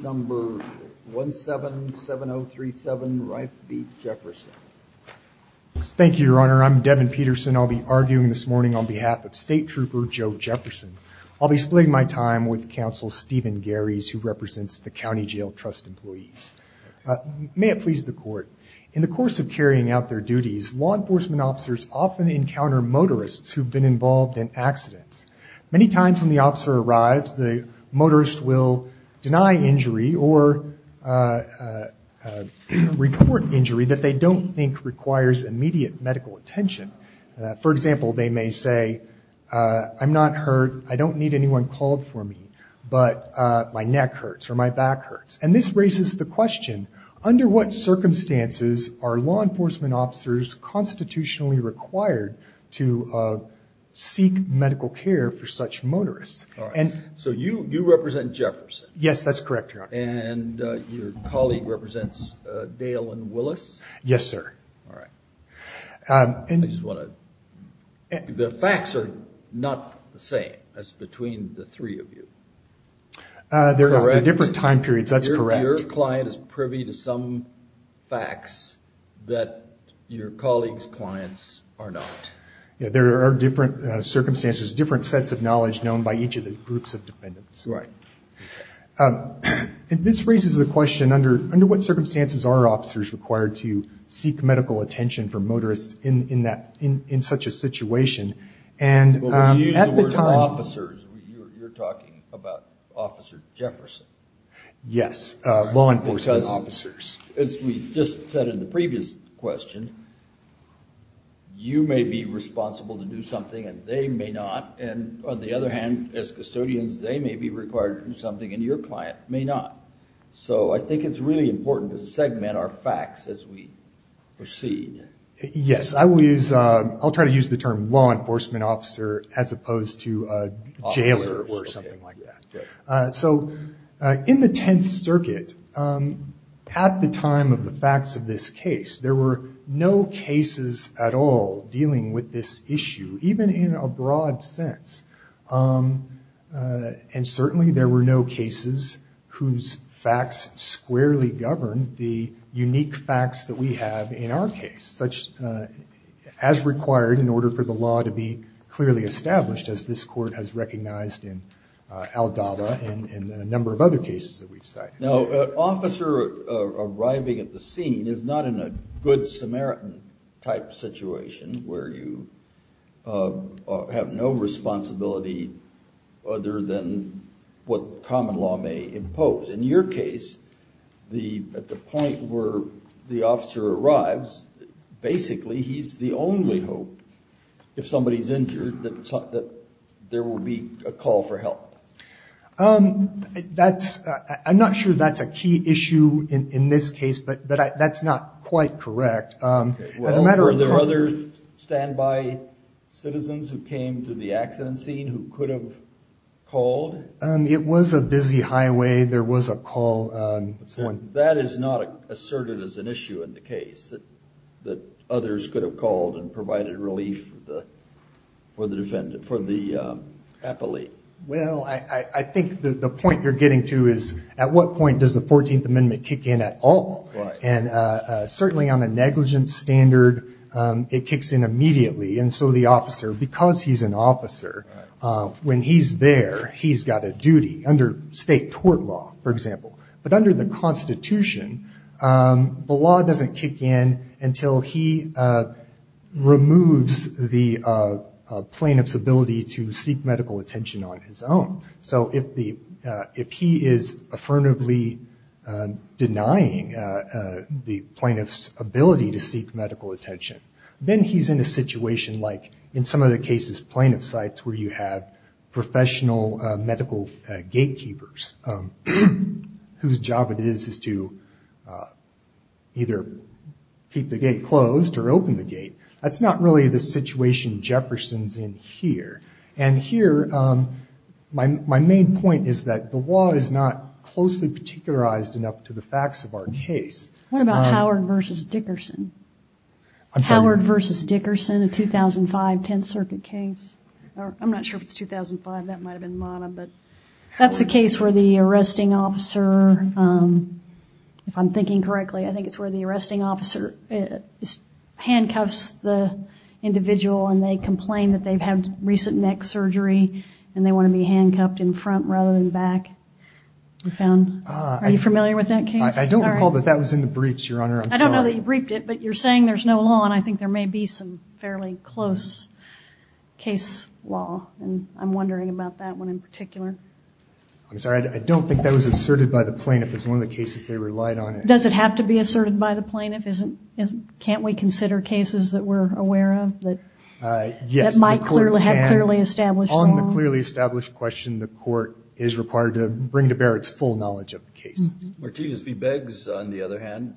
Number 177037 Rife v. Jefferson. Thank you, Your Honor. I'm Devin Peterson. I'll be arguing this morning on behalf of State Trooper Joe Jefferson. I'll be splitting my time with Counsel Stephen Garys, who represents the County Jail Trust employees. May it please the court. In the course of carrying out their duties, law enforcement officers often encounter motorists who've been involved in accidents. Many times when the officer arrives, the motorist will deny injury or report injury that they don't think requires immediate medical attention. For example, they may say, I'm not hurt, I don't need anyone called for me, but my neck hurts or my back hurts. And this raises the question, under what circumstances are law enforcement officers constitutionally required to seek medical care? So you represent Jefferson? Yes, that's correct, Your Honor. And your colleague represents Dale and Willis? Yes, sir. The facts are not the same as between the three of you. They're different time periods, that's correct. Your client is privy to some facts that your colleague's clients are not. There are different circumstances, different sets of knowledge known by each of the groups of dependents. This raises the question, under what circumstances are officers required to seek medical attention for motorists in such a situation? Well, when you use the word officers, you're talking about Officer Jefferson. Yes, law enforcement officers. As we just said in the previous question, you may be responsible to do something and they may not. And on the other hand, as custodians, they may be required to do something and your client may not. So I think it's really important to segment our facts as we proceed. Yes, I'll try to use the term law enforcement officer as opposed to jailer or something like that. So in the Tenth Circuit, at the time of the facts of this case, there were no cases at all dealing with this issue, even in a broad sense. And certainly there were no cases whose facts squarely governed the unique facts that we have in our case, as required in order for the law to be clearly established. As this Court has recognized in Aldaba and a number of other cases that we've cited. Now, an officer arriving at the scene is not in a good Samaritan-type situation, where you have no responsibility other than what common law may impose. In your case, at the point where the officer arrives, basically he's the only hope, if somebody's injured, that they can be released. But there will be a call for help. I'm not sure that's a key issue in this case, but that's not quite correct. Were there other standby citizens who came to the accident scene who could have called? It was a busy highway, there was a call. That is not asserted as an issue in the case, that others could have called and provided relief for the appellee. Well, I think the point you're getting to is, at what point does the 14th Amendment kick in at all? And certainly on a negligence standard, it kicks in immediately, and so the officer, because he's an officer, when he's there, he's got a duty. Under state tort law, for example, but under the Constitution, the law doesn't kick in until he removes the plaintiff's ability to seek medical attention on his own. So if he is affirmatively denying the plaintiff's ability to seek medical attention, then he's in a situation like, in some of the cases, plaintiff sites, where you have professional medical gain. Keepers, whose job it is to either keep the gate closed or open the gate, that's not really the situation Jefferson's in here. And here, my main point is that the law is not closely particularized enough to the facts of our case. What about Howard v. Dickerson? Howard v. Dickerson, a 2005 Tenth Circuit case? I'm not sure if it's 2005, that might have been Manna, but that's a case where the arresting officer, if I'm thinking correctly, I think it's where the arresting officer handcuffs the individual and they complain that they've had recent neck surgery, and they want to be handcuffed in front rather than back. Are you familiar with that case? I don't recall that that was in the briefs, Your Honor. I don't know that you briefed it, but you're saying there's no law, and I think there may be some fairly close case law, and I'm wondering about that one in particular. I'm sorry, I don't think that was asserted by the plaintiff. It's one of the cases they relied on. Does it have to be asserted by the plaintiff? Can't we consider cases that we're aware of that might have clearly established law? On the clearly established question, the court is required to bring to bear its full knowledge of the case. Martinez v. Beggs, on the other hand,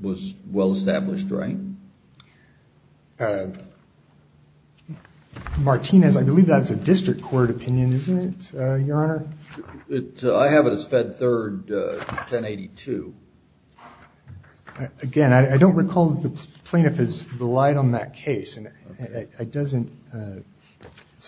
was well established, right? Martinez, I believe that's a district court opinion, isn't it, Your Honor? I have it as fed third, 1082. Again, I don't recall that the plaintiff has relied on that case.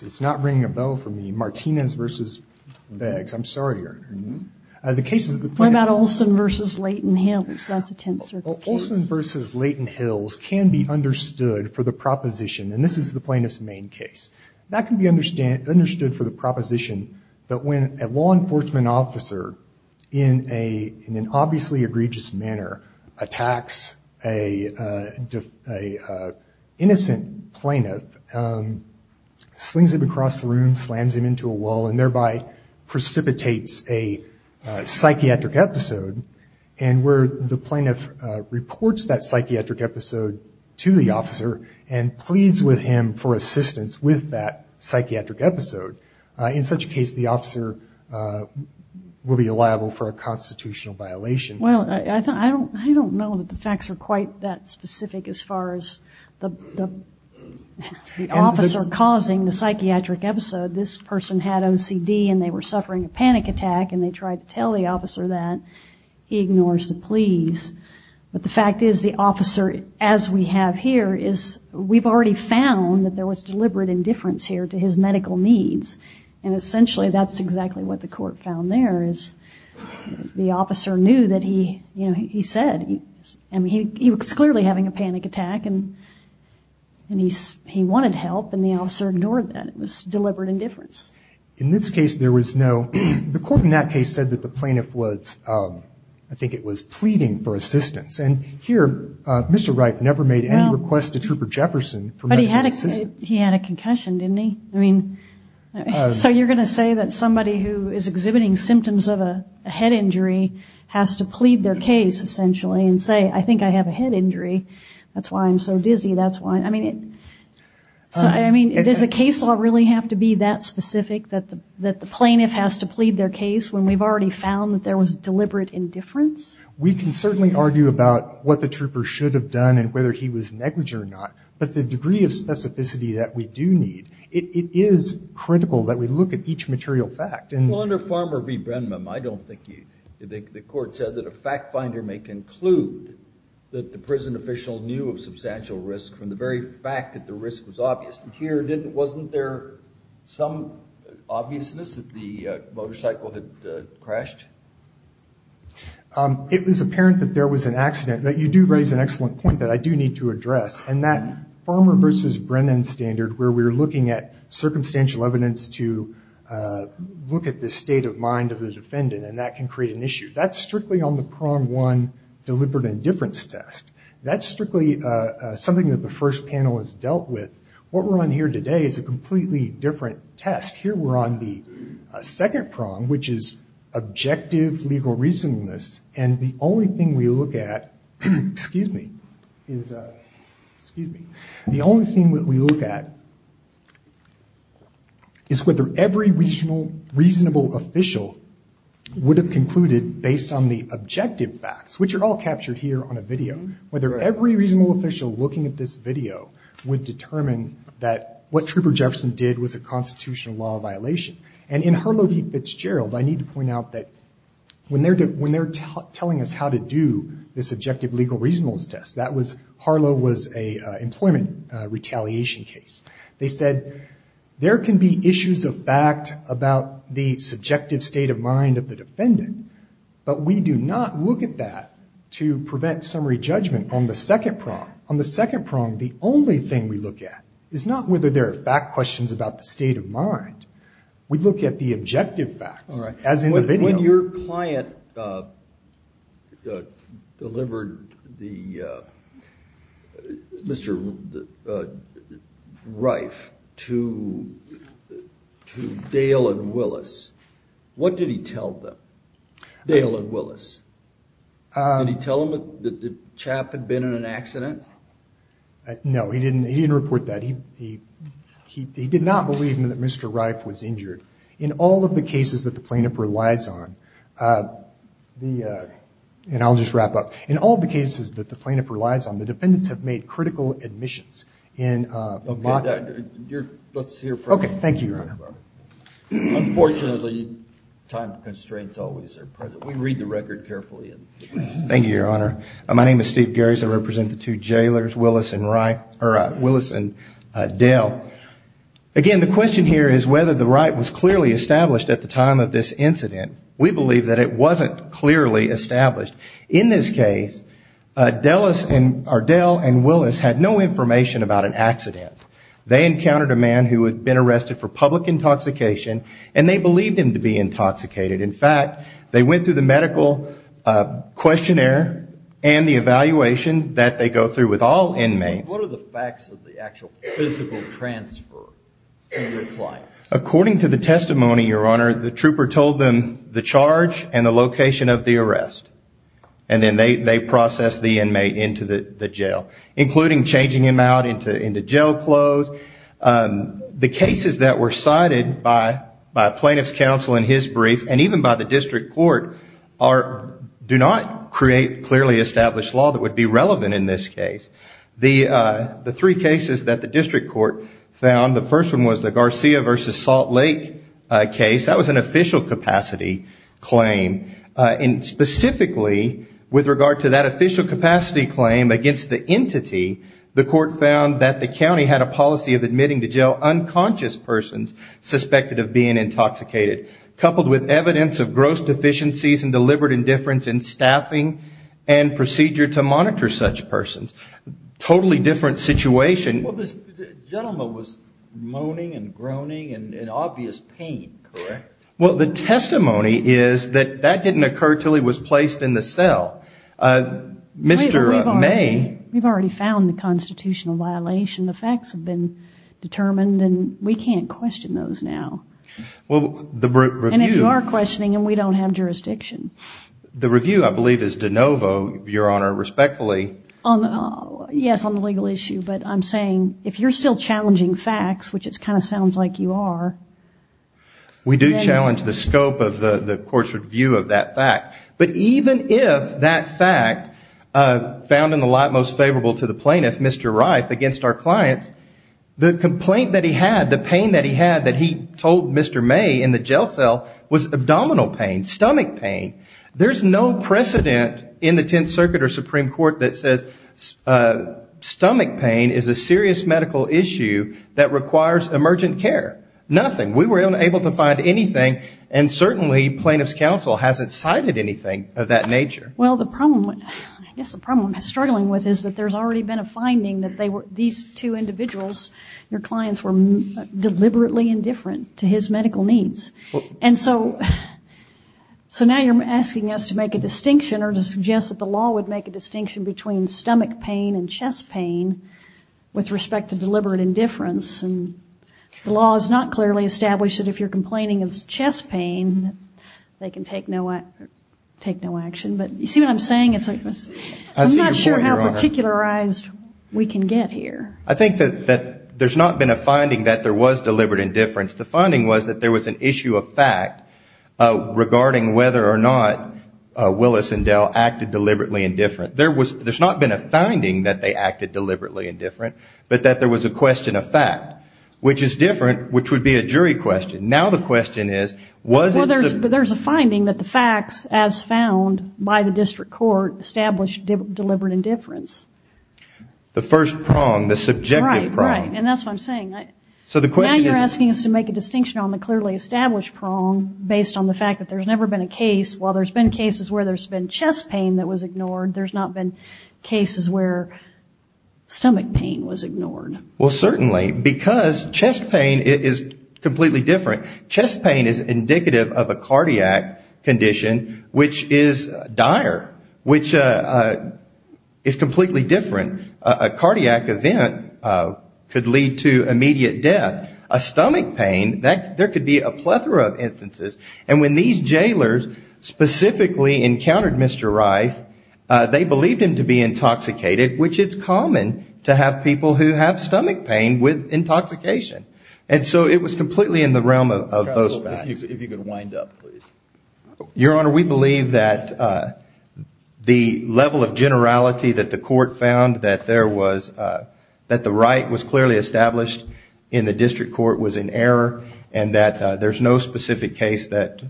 It's not ringing a bell for me. Martinez v. Beggs. I'm sorry, Your Honor. What about Olson v. Leighton Hills? That's a Tenth Circuit case. Olson v. Leighton Hills, that's a Tenth Circuit case. That can be understood for the proposition, and this is the plaintiff's main case. That can be understood for the proposition that when a law enforcement officer, in an obviously egregious manner, attacks an innocent plaintiff, slings him across the room, slams him into a wall, and thereby precipitates a psychiatric episode. And where the plaintiff reports that psychiatric episode to the officer, and pleads with him for assistance with that psychiatric episode. In such a case, the officer will be liable for a constitutional violation. Well, I don't know that the facts are quite that specific as far as the officer causing the psychiatric episode. This person had OCD, and they were suffering a panic attack, and they tried to tell the officer that. He ignores the pleas. But the fact is, the officer, as we have here, is, we've already found that there was deliberate indifference here to his medical needs. And essentially, that's exactly what the court found there, is the officer knew that he, you know, he said, and he was clearly having a panic attack, and he wanted help, and the officer ignored that. It was deliberate indifference. In this case, there was no, the court in that case said that the plaintiff was, I think it was pleading for assistance. And here, Mr. Reif never made any request to Trooper Jefferson for medical assistance. But he had a concussion, didn't he? I mean, so you're going to say that somebody who is exhibiting symptoms of a head injury has to plead their case, essentially, and say, I think I have a head injury, that's why I'm so dizzy, that's why. I mean, does a case law really have to be that specific? That the plaintiff has to plead their case when we've already found that there was deliberate indifference? We can certainly argue about what the trooper should have done, and whether he was negligent or not, but the degree of specificity that we do need, it is critical that we look at each material fact. Well, under Farmer v. Brenman, I don't think the court said that a fact finder may conclude that the prison official knew of substantial risk from the very fact that the risk was obvious. Here, wasn't there some obviousness that the motorcycle had crashed? It was apparent that there was an accident, but you do raise an excellent point that I do need to address, and that Farmer v. Brenman standard, where we're looking at circumstantial evidence to look at the state of mind of the defendant, and that can create an issue. That's strictly on the Prong-1 deliberate indifference test. That's strictly something that the first panel has dealt with. What we're on here today is a completely different test. Here we're on the second prong, which is objective legal reasonableness, and the only thing we look at is whether every reasonable official would have concluded, based on the objective facts, which are all captured here on a video, whether every reasonable official looking at this video would determine that there was deliberate indifference. What Trooper Jefferson did was a constitutional law violation, and in Harlow v. Fitzgerald, I need to point out that when they're telling us how to do this objective legal reasonableness test, Harlow was an employment retaliation case. They said, there can be issues of fact about the subjective state of mind of the defendant, but we do not look at that to prevent summary judgment on the second prong. The only thing we look at is not whether there are fact questions about the state of mind. We look at the objective facts, as in the video. When your client delivered Mr. Reif to Dale and Willis, what did he tell them? Did he tell them that the chap had been in an accident? No, he didn't. He didn't report that. He did not believe that Mr. Reif was injured. In all of the cases that the plaintiff relies on, and I'll just wrap up, in all of the cases that the plaintiff relies on, the defendants have made critical admissions. Okay, let's hear from you, Your Honor. Unfortunately, time constraints always are present. We read the record carefully. Thank you, Your Honor. My name is Steve Gary, I represent the two jailers, Willis and Dale. Again, the question here is whether the right was clearly established at the time of this incident. We believe that it wasn't clearly established. In this case, Dale and Willis had no information about an accident. They encountered a man who had been arrested for public intoxication, and they believed him to be intoxicated. In fact, they went through the medical questionnaire and the evaluation that they go through with all inmates. What are the facts of the actual physical transfer? According to the testimony, Your Honor, the trooper told them the charge and the location of the arrest, and then they processed the inmate into the jail, including changing him out into jail clothes. The cases that were cited by plaintiff's counsel in his brief, and even by the district court, do not create clearly established law that would be relevant in this case. The three cases that the district court found, the first one was the Garcia v. Salt Lake case. That was an official capacity claim. Specifically, with regard to that official capacity claim against the entity, the court found that the county had a policy in place to make it official. The county had a policy of admitting to jail unconscious persons suspected of being intoxicated, coupled with evidence of gross deficiencies and deliberate indifference in staffing and procedure to monitor such persons. Totally different situation. The gentleman was moaning and groaning in obvious pain, correct? Well, the testimony is that that didn't occur until he was placed in the cell. Mr. May. We've already found the constitutional violation, the facts have been determined, and we can't question those now. And if you are questioning them, we don't have jurisdiction. The review, I believe, is de novo, your honor, respectfully. Yes, on the legal issue, but I'm saying, if you're still challenging facts, which it kind of sounds like you are. We do challenge the scope of the court's review of that fact. But even if that fact, found in the light most favorable to the plaintiff, Mr. Wright, against our clients, the complaint that he had, the pain that he had that he told Mr. May in the jail cell was abdominal pain, stomach pain. There's no precedent in the Tenth Circuit or Supreme Court that says stomach pain is a serious medical issue that requires emergent care. Nothing. We were unable to find anything, and certainly plaintiff's counsel hasn't cited anything of that nature. Well, I guess the problem I'm struggling with is that there's already been a finding that these two individuals, your clients, were deliberately indifferent to his medical needs. And so now you're asking us to make a distinction or to suggest that the law would make a distinction between stomach pain and chest pain with respect to deliberate indifference. And the law is not clearly established that if you're complaining of chest pain, they can take no action. But you see what I'm saying? I'm not sure how particularized we can get here. I think that there's not been a finding that there was deliberate indifference. The finding was that there was an issue of fact regarding whether or not Willis and Dell acted deliberately indifferent. There's not been a finding that they acted deliberately indifferent, but that there was a question of fact. Which is different, which would be a jury question. Now the question is, was it... Well, there's a finding that the facts as found by the district court established deliberate indifference. The first prong, the subjective prong. Right, right, and that's what I'm saying. Now you're asking us to make a distinction on the clearly established prong based on the fact that there's never been a case. While there's been cases where there's been chest pain that was ignored, there's not been cases where stomach pain was ignored. Well, certainly, because chest pain is completely different. Chest pain is indicative of a cardiac condition, which is dire, which is completely different. A cardiac event could lead to immediate death. A stomach pain, there could be a plethora of instances. And when these jailers specifically encountered Mr. Reif, they believed him to be intoxicated, which it's common to have people who have stomach pain. And so it was completely in the realm of those facts. If you could wind up, please. Your Honor, we believe that the level of generality that the court found, that the right was clearly established in the district court was in error, and that there's no specific case that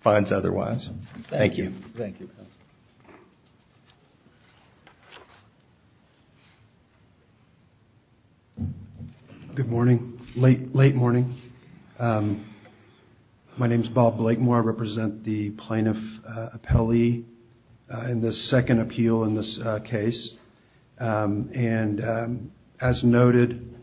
finds otherwise. Thank you. Good morning. Late morning. My name is Bob Blakemore. I represent the plaintiff appellee in this second appeal in this case. And as noted,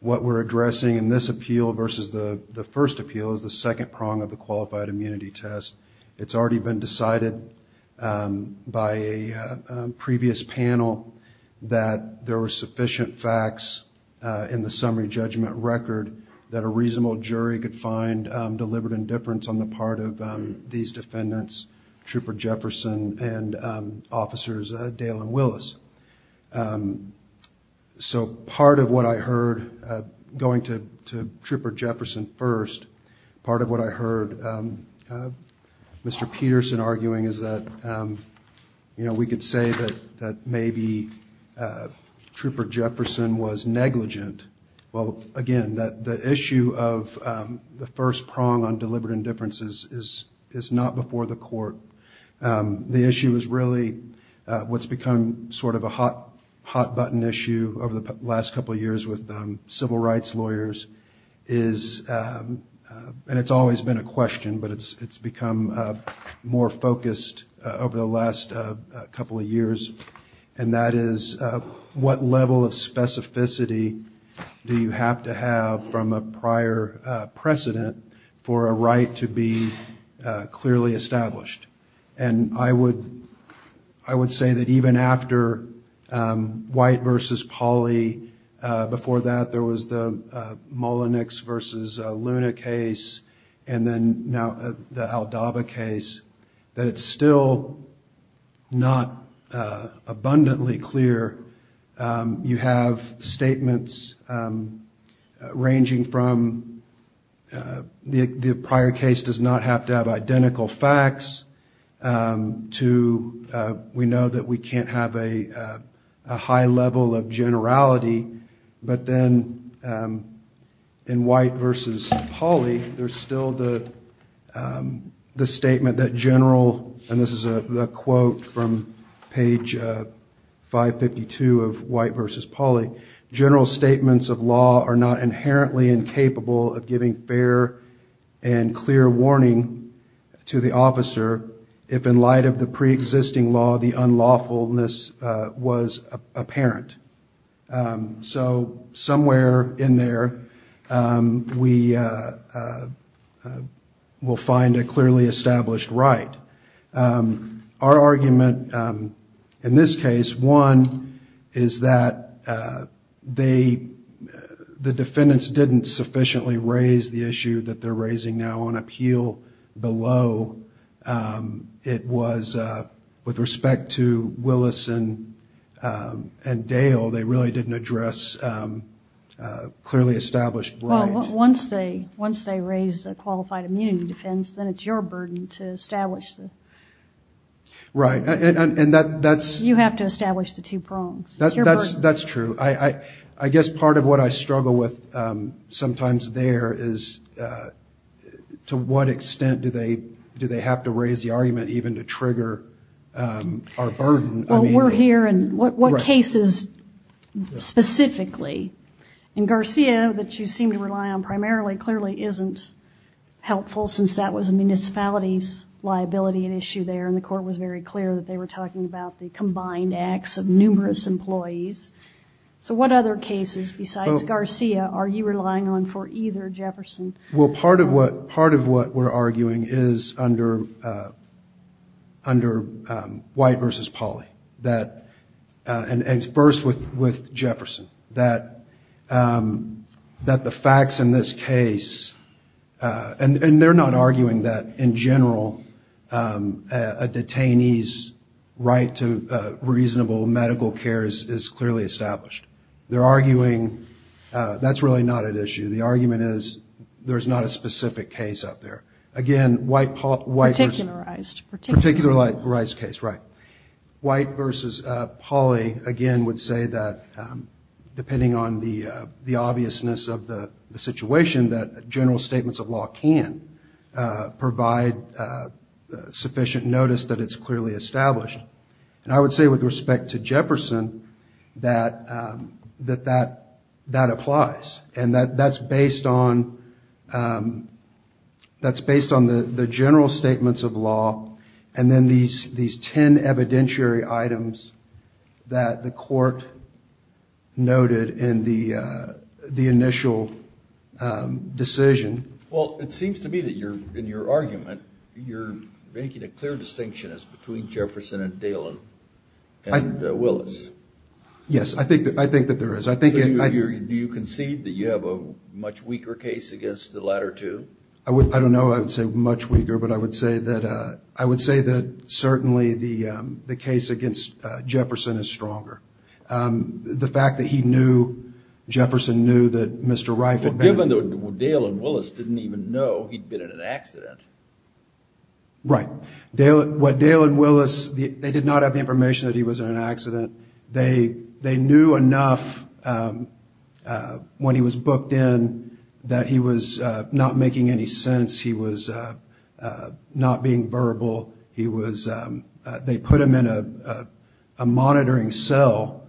what we're addressing in this appeal versus the first appeal is the second prong of the qualified immunity test. It's already been decided by a previous panel that there were sufficient facts to support the claim that Mr. Reif was intoxicated. And there were sufficient facts in the summary judgment record that a reasonable jury could find deliberate indifference on the part of these defendants, Trooper Jefferson and officers Dalen Willis. So part of what I heard, going to Trooper Jefferson first, part of what I heard Mr. Peterson arguing is that, you know, we could say that maybe Trooper Jefferson was not intoxicated. And that maybe he was negligent. Well, again, the issue of the first prong on deliberate indifference is not before the court. The issue is really what's become sort of a hot button issue over the last couple of years with civil rights lawyers is, and it's always been a question, but it's become more focused over the last couple of years. And that is, what level of specificity do you have to have from a prior precedent for a right to be clearly established? And I would, I would say that even after White versus Pauly, before that there was the Mullenix versus Luna case, and then now the Aldaba case, that it's still not, you know, abundantly clear. You have statements ranging from the prior case does not have to have identical facts, to we know that we can't have a high level of generality, but then in White versus Pauly, there's still the statement that general, and this is a quote from page, 552 of White versus Pauly, general statements of law are not inherently incapable of giving fair and clear warning to the officer, if in light of the preexisting law, the unlawfulness was apparent. So somewhere in there, we will find a clearly established right. Now, our argument in this case, one, is that they, the defendants didn't sufficiently raise the issue that they're raising now on appeal below. It was, with respect to Willison and Dale, they really didn't address clearly established right. Well, once they, once they raise a qualified immunity defense, then it's your burden to establish that. Right, and that's... You have to establish the two prongs. That's true. I guess part of what I struggle with sometimes there is to what extent do they have to raise the argument even to trigger our burden. Well, we're here, and what cases specifically? And Garcia, that you seem to rely on primarily, clearly isn't helpful, since that was a municipality's liability. And the court was very clear that they were talking about the combined acts of numerous employees. So what other cases, besides Garcia, are you relying on for either, Jefferson? Well, part of what, part of what we're arguing is under, under White versus Pauly. That, and first with Jefferson. That, that the facts in this case, and, and they're not arguing that in general, that the facts in this case, and they're not arguing that in general, that a detainee's right to reasonable medical care is, is clearly established. They're arguing, that's really not an issue. The argument is, there's not a specific case out there. Again, White versus... Particularized, particularized. Particularized case, right. White versus Pauly, again, would say that, depending on the, the obviousness of the situation, that general statements of law can, provide sufficient notice that it's clearly established. And I would say with respect to Jefferson, that, that, that applies. And that, that's based on, that's based on the, the general statements of law, and then these, these ten evidentiary items that the court noted in the, the initial decision. Well, it seems to me that you're, in your argument, you're making a clear distinction as between Jefferson and Dalen and Willis. Yes, I think, I think that there is. I think... Do you concede that you have a much weaker case against the latter two? I would, I don't know, I would say much weaker, but I would say that, I would say that certainly the, the case against Jefferson is stronger. The fact that he knew, Jefferson knew that Mr. Reif... Given that Dalen and Willis didn't even know he'd been in an accident. Right. Dalen, what Dalen and Willis, they did not have the information that he was in an accident. They, they knew enough when he was booked in that he was not making any sense. He was not being verbal. He was, they put him in a, a monitoring cell,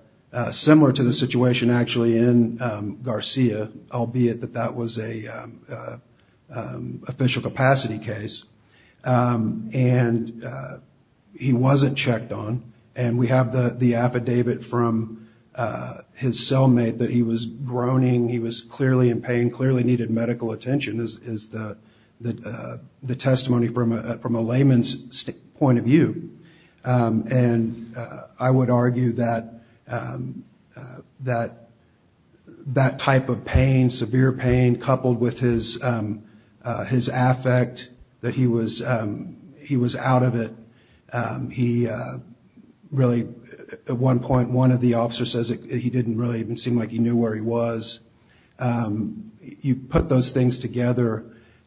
similar to the situation actually in Garcia, albeit the case of Jefferson. That was a official capacity case. And he wasn't checked on. And we have the, the affidavit from his cellmate that he was groaning, he was clearly in pain, clearly needed medical attention, is the, the testimony from a layman's point of view. And I would argue that, that, that type of pain, severe pain, is not the case. That he was in pain, coupled with his, his affect, that he was, he was out of it. He really, at one point, one of the officers says that he didn't really even seem like he knew where he was. You put those things together,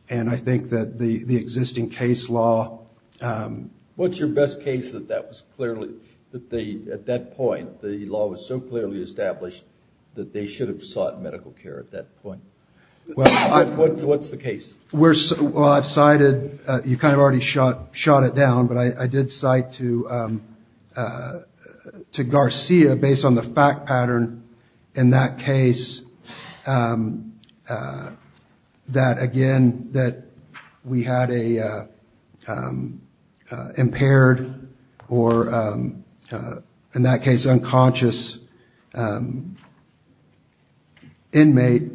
and I think that the, the existing case law... What's your best case that that was clearly, that they, at that point, the law was so clearly established that they should have sought medical care at that point? Well, I... What's the case? Well, I've cited, you kind of already shot, shot it down, but I did cite to, to Garcia, based on the fact pattern in that case, that, again, that we had a impaired or, in that case, unconscious inmate.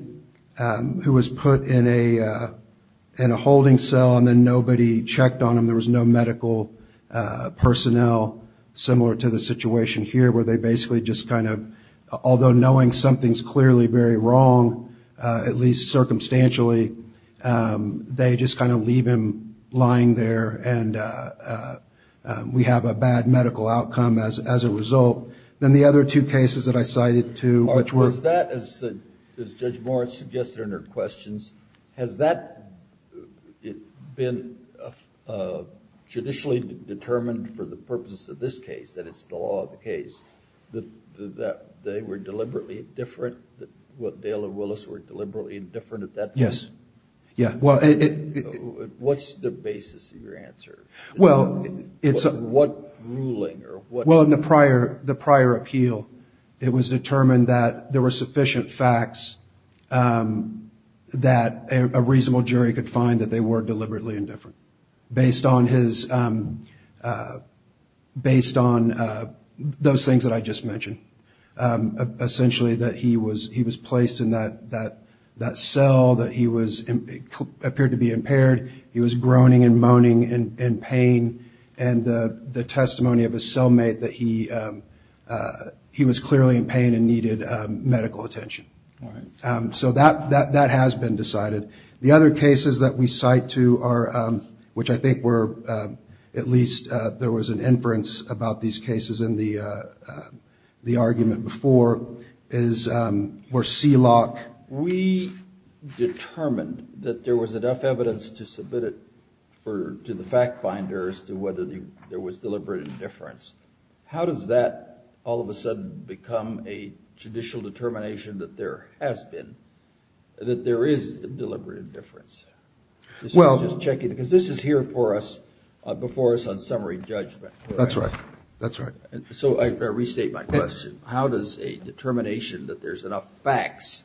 who was put in a, in a holding cell, and then nobody checked on him, there was no medical personnel, similar to the situation here, where they basically just kind of, although knowing something's clearly very wrong, at least circumstantially, they just kind of leave him lying there, and we have a bad medical outcome as, as a result. Then the other two cases that I cited to, which were... As Judge Moritz suggested in her questions, has that been judicially determined for the purposes of this case, that it's the law of the case, that they were deliberately different, that Dale and Willis were deliberately different at that point? Yes. Yeah. Well, it... What's the basis of your answer? Well, it's... What ruling or what... Well, in the prior, the prior appeal, it was determined that there were sufficient facts that a reasonable jury could find that they were deliberately indifferent, based on his, based on those things that I just mentioned. Essentially, that he was, he was placed in that, that, that cell, that he was, appeared to be impaired, he was groaning and moaning in, in pain, and the, the testimony of his cellmate, that he, he was clearly in pain and needed medical attention. Right. So that, that, that has been decided. The other cases that we cite to are, which I think were, at least, there was an inference about these cases in the, the argument before, is, were CELOC. We determined that there was enough evidence to submit it for, to the fact finders to whether there was deliberate indifference. How does that, all of a sudden, become a judicial determination that there has been, that there is deliberate indifference? Well... This is just checking, because this is here for us, before us on summary judgment. That's right. That's right. So I, I restate my question. How does a determination that there's enough facts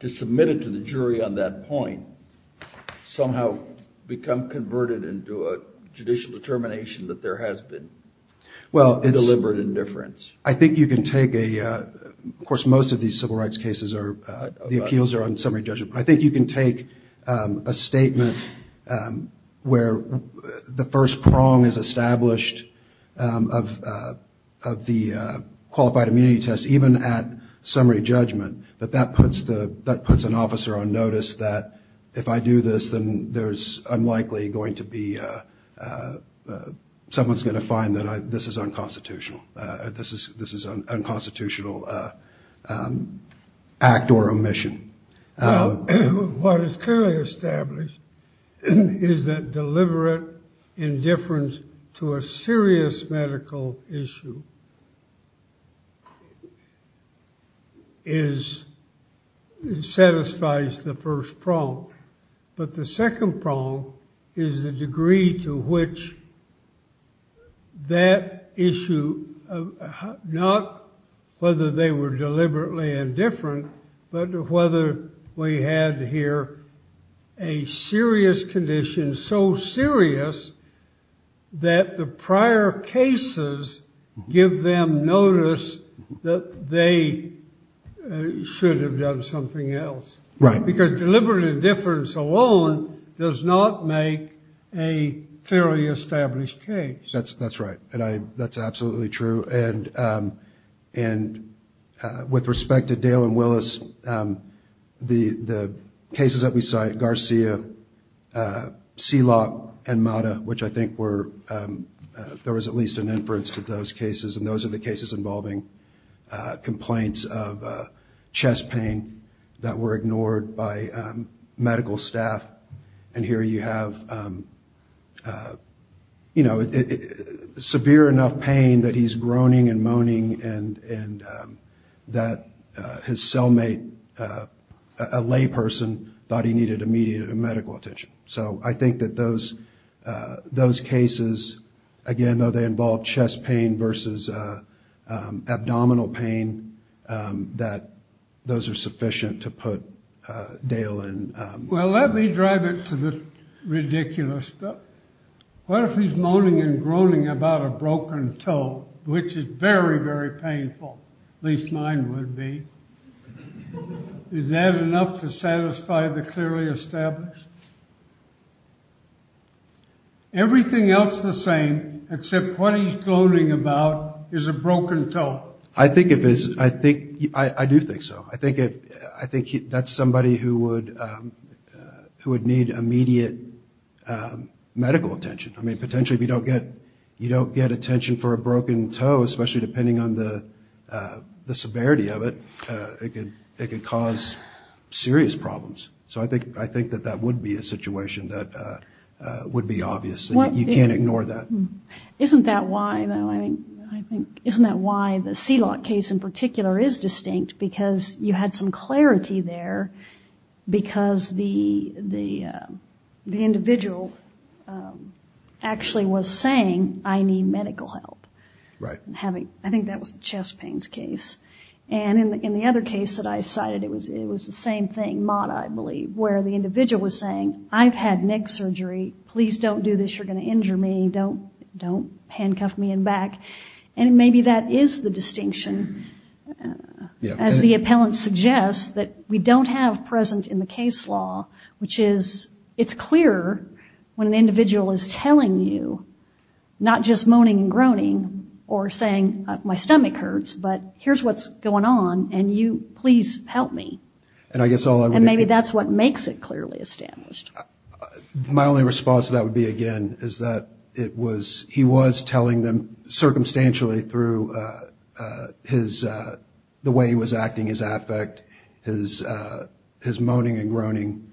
to submit it to the jury on that point somehow become converted into a judicial determination that there has been deliberate indifference? I think you can take a, of course, most of these civil rights cases are, the appeals are on summary judgment. I think you can take a statement where the first prong is established of, of the qualified immunity test, even at summary judgment. That that puts the, that puts an officer on notice that if I do this, then there's unlikely going to be, someone's going to find that this is unconstitutional. This is, this is an unconstitutional act or omission. What is clearly established is that deliberate indifference to a serious medical issue is, satisfies the first prong. But the second prong is the degree to which that issue, not whether they were deliberately indifferent, but whether we had here a serious condition, so serious that the prior cases give them notice that they should have done something else. Because deliberate indifference alone does not make a fairly established case. That's, that's right. And I, that's absolutely true. And, and with respect to Dale and Willis, the, the cases that we cite, Garcia, Seelock and Mata, which I think were, there was at least an inference to those cases. And those are the cases involving complaints of chest pain that were ignored by medical staff. And here you have, you know, severe enough pain that he's groaning and moaning and, and that his cellmate, a layperson, thought he needed immediate medical attention. So I think that those, those cases, again, though they involve chest pain versus abdominal pain, that those are sufficient to put Dale in. Well, let me drive it to the ridiculous. But what if he's moaning and groaning about a broken toe, which is very, very painful? At least mine would be. Is that enough to satisfy the clearly established? Everything else the same, except what he's gloating about is a broken toe. I think it is. I think, I do think so. I think it, I think that's somebody who would, who would need immediate medical attention. I mean, potentially if you don't get, you don't get attention for a broken toe, especially depending on the, the severity of it, it could, it could cause serious problems. So I think, I think that that would be a situation that would be obvious. You can't ignore that. Isn't that why, though, I think, isn't that why the C-lock case in particular is distinct? Because you had some clarity there because the, the, the individual actually was saying, I need medical help. Right. Having, I think that was the chest pains case. And in the other case that I cited, it was, it was the same thing, Mata, I believe, where the individual was saying, I've had neck surgery. Please don't do this. You're going to injure me. Don't, don't handcuff me in back. And maybe that is the distinction, as the appellant suggests, that we don't have present in the case law, which is, it's clear when an individual is telling you, not just moaning and groaning or saying, my stomach hurts, but here's what's going on and you, please help me. And I guess all I would do. And maybe that's what makes it clearly established. My only response to that would be, again, is that it was, he was telling them circumstantially through his, the way he was acting, his affect, his moaning and groaning,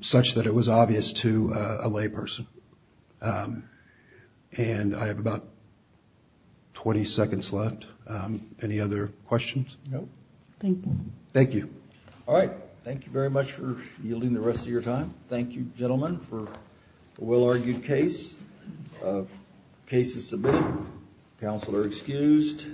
such that it was obvious to a lay person. And I have about 20 seconds left. Any other questions? No. Thank you. Thank you. All right. Thank you very much for yielding the rest of your time. Thank you, gentlemen, for a well-argued case. Case is submitted. Counsel are excused.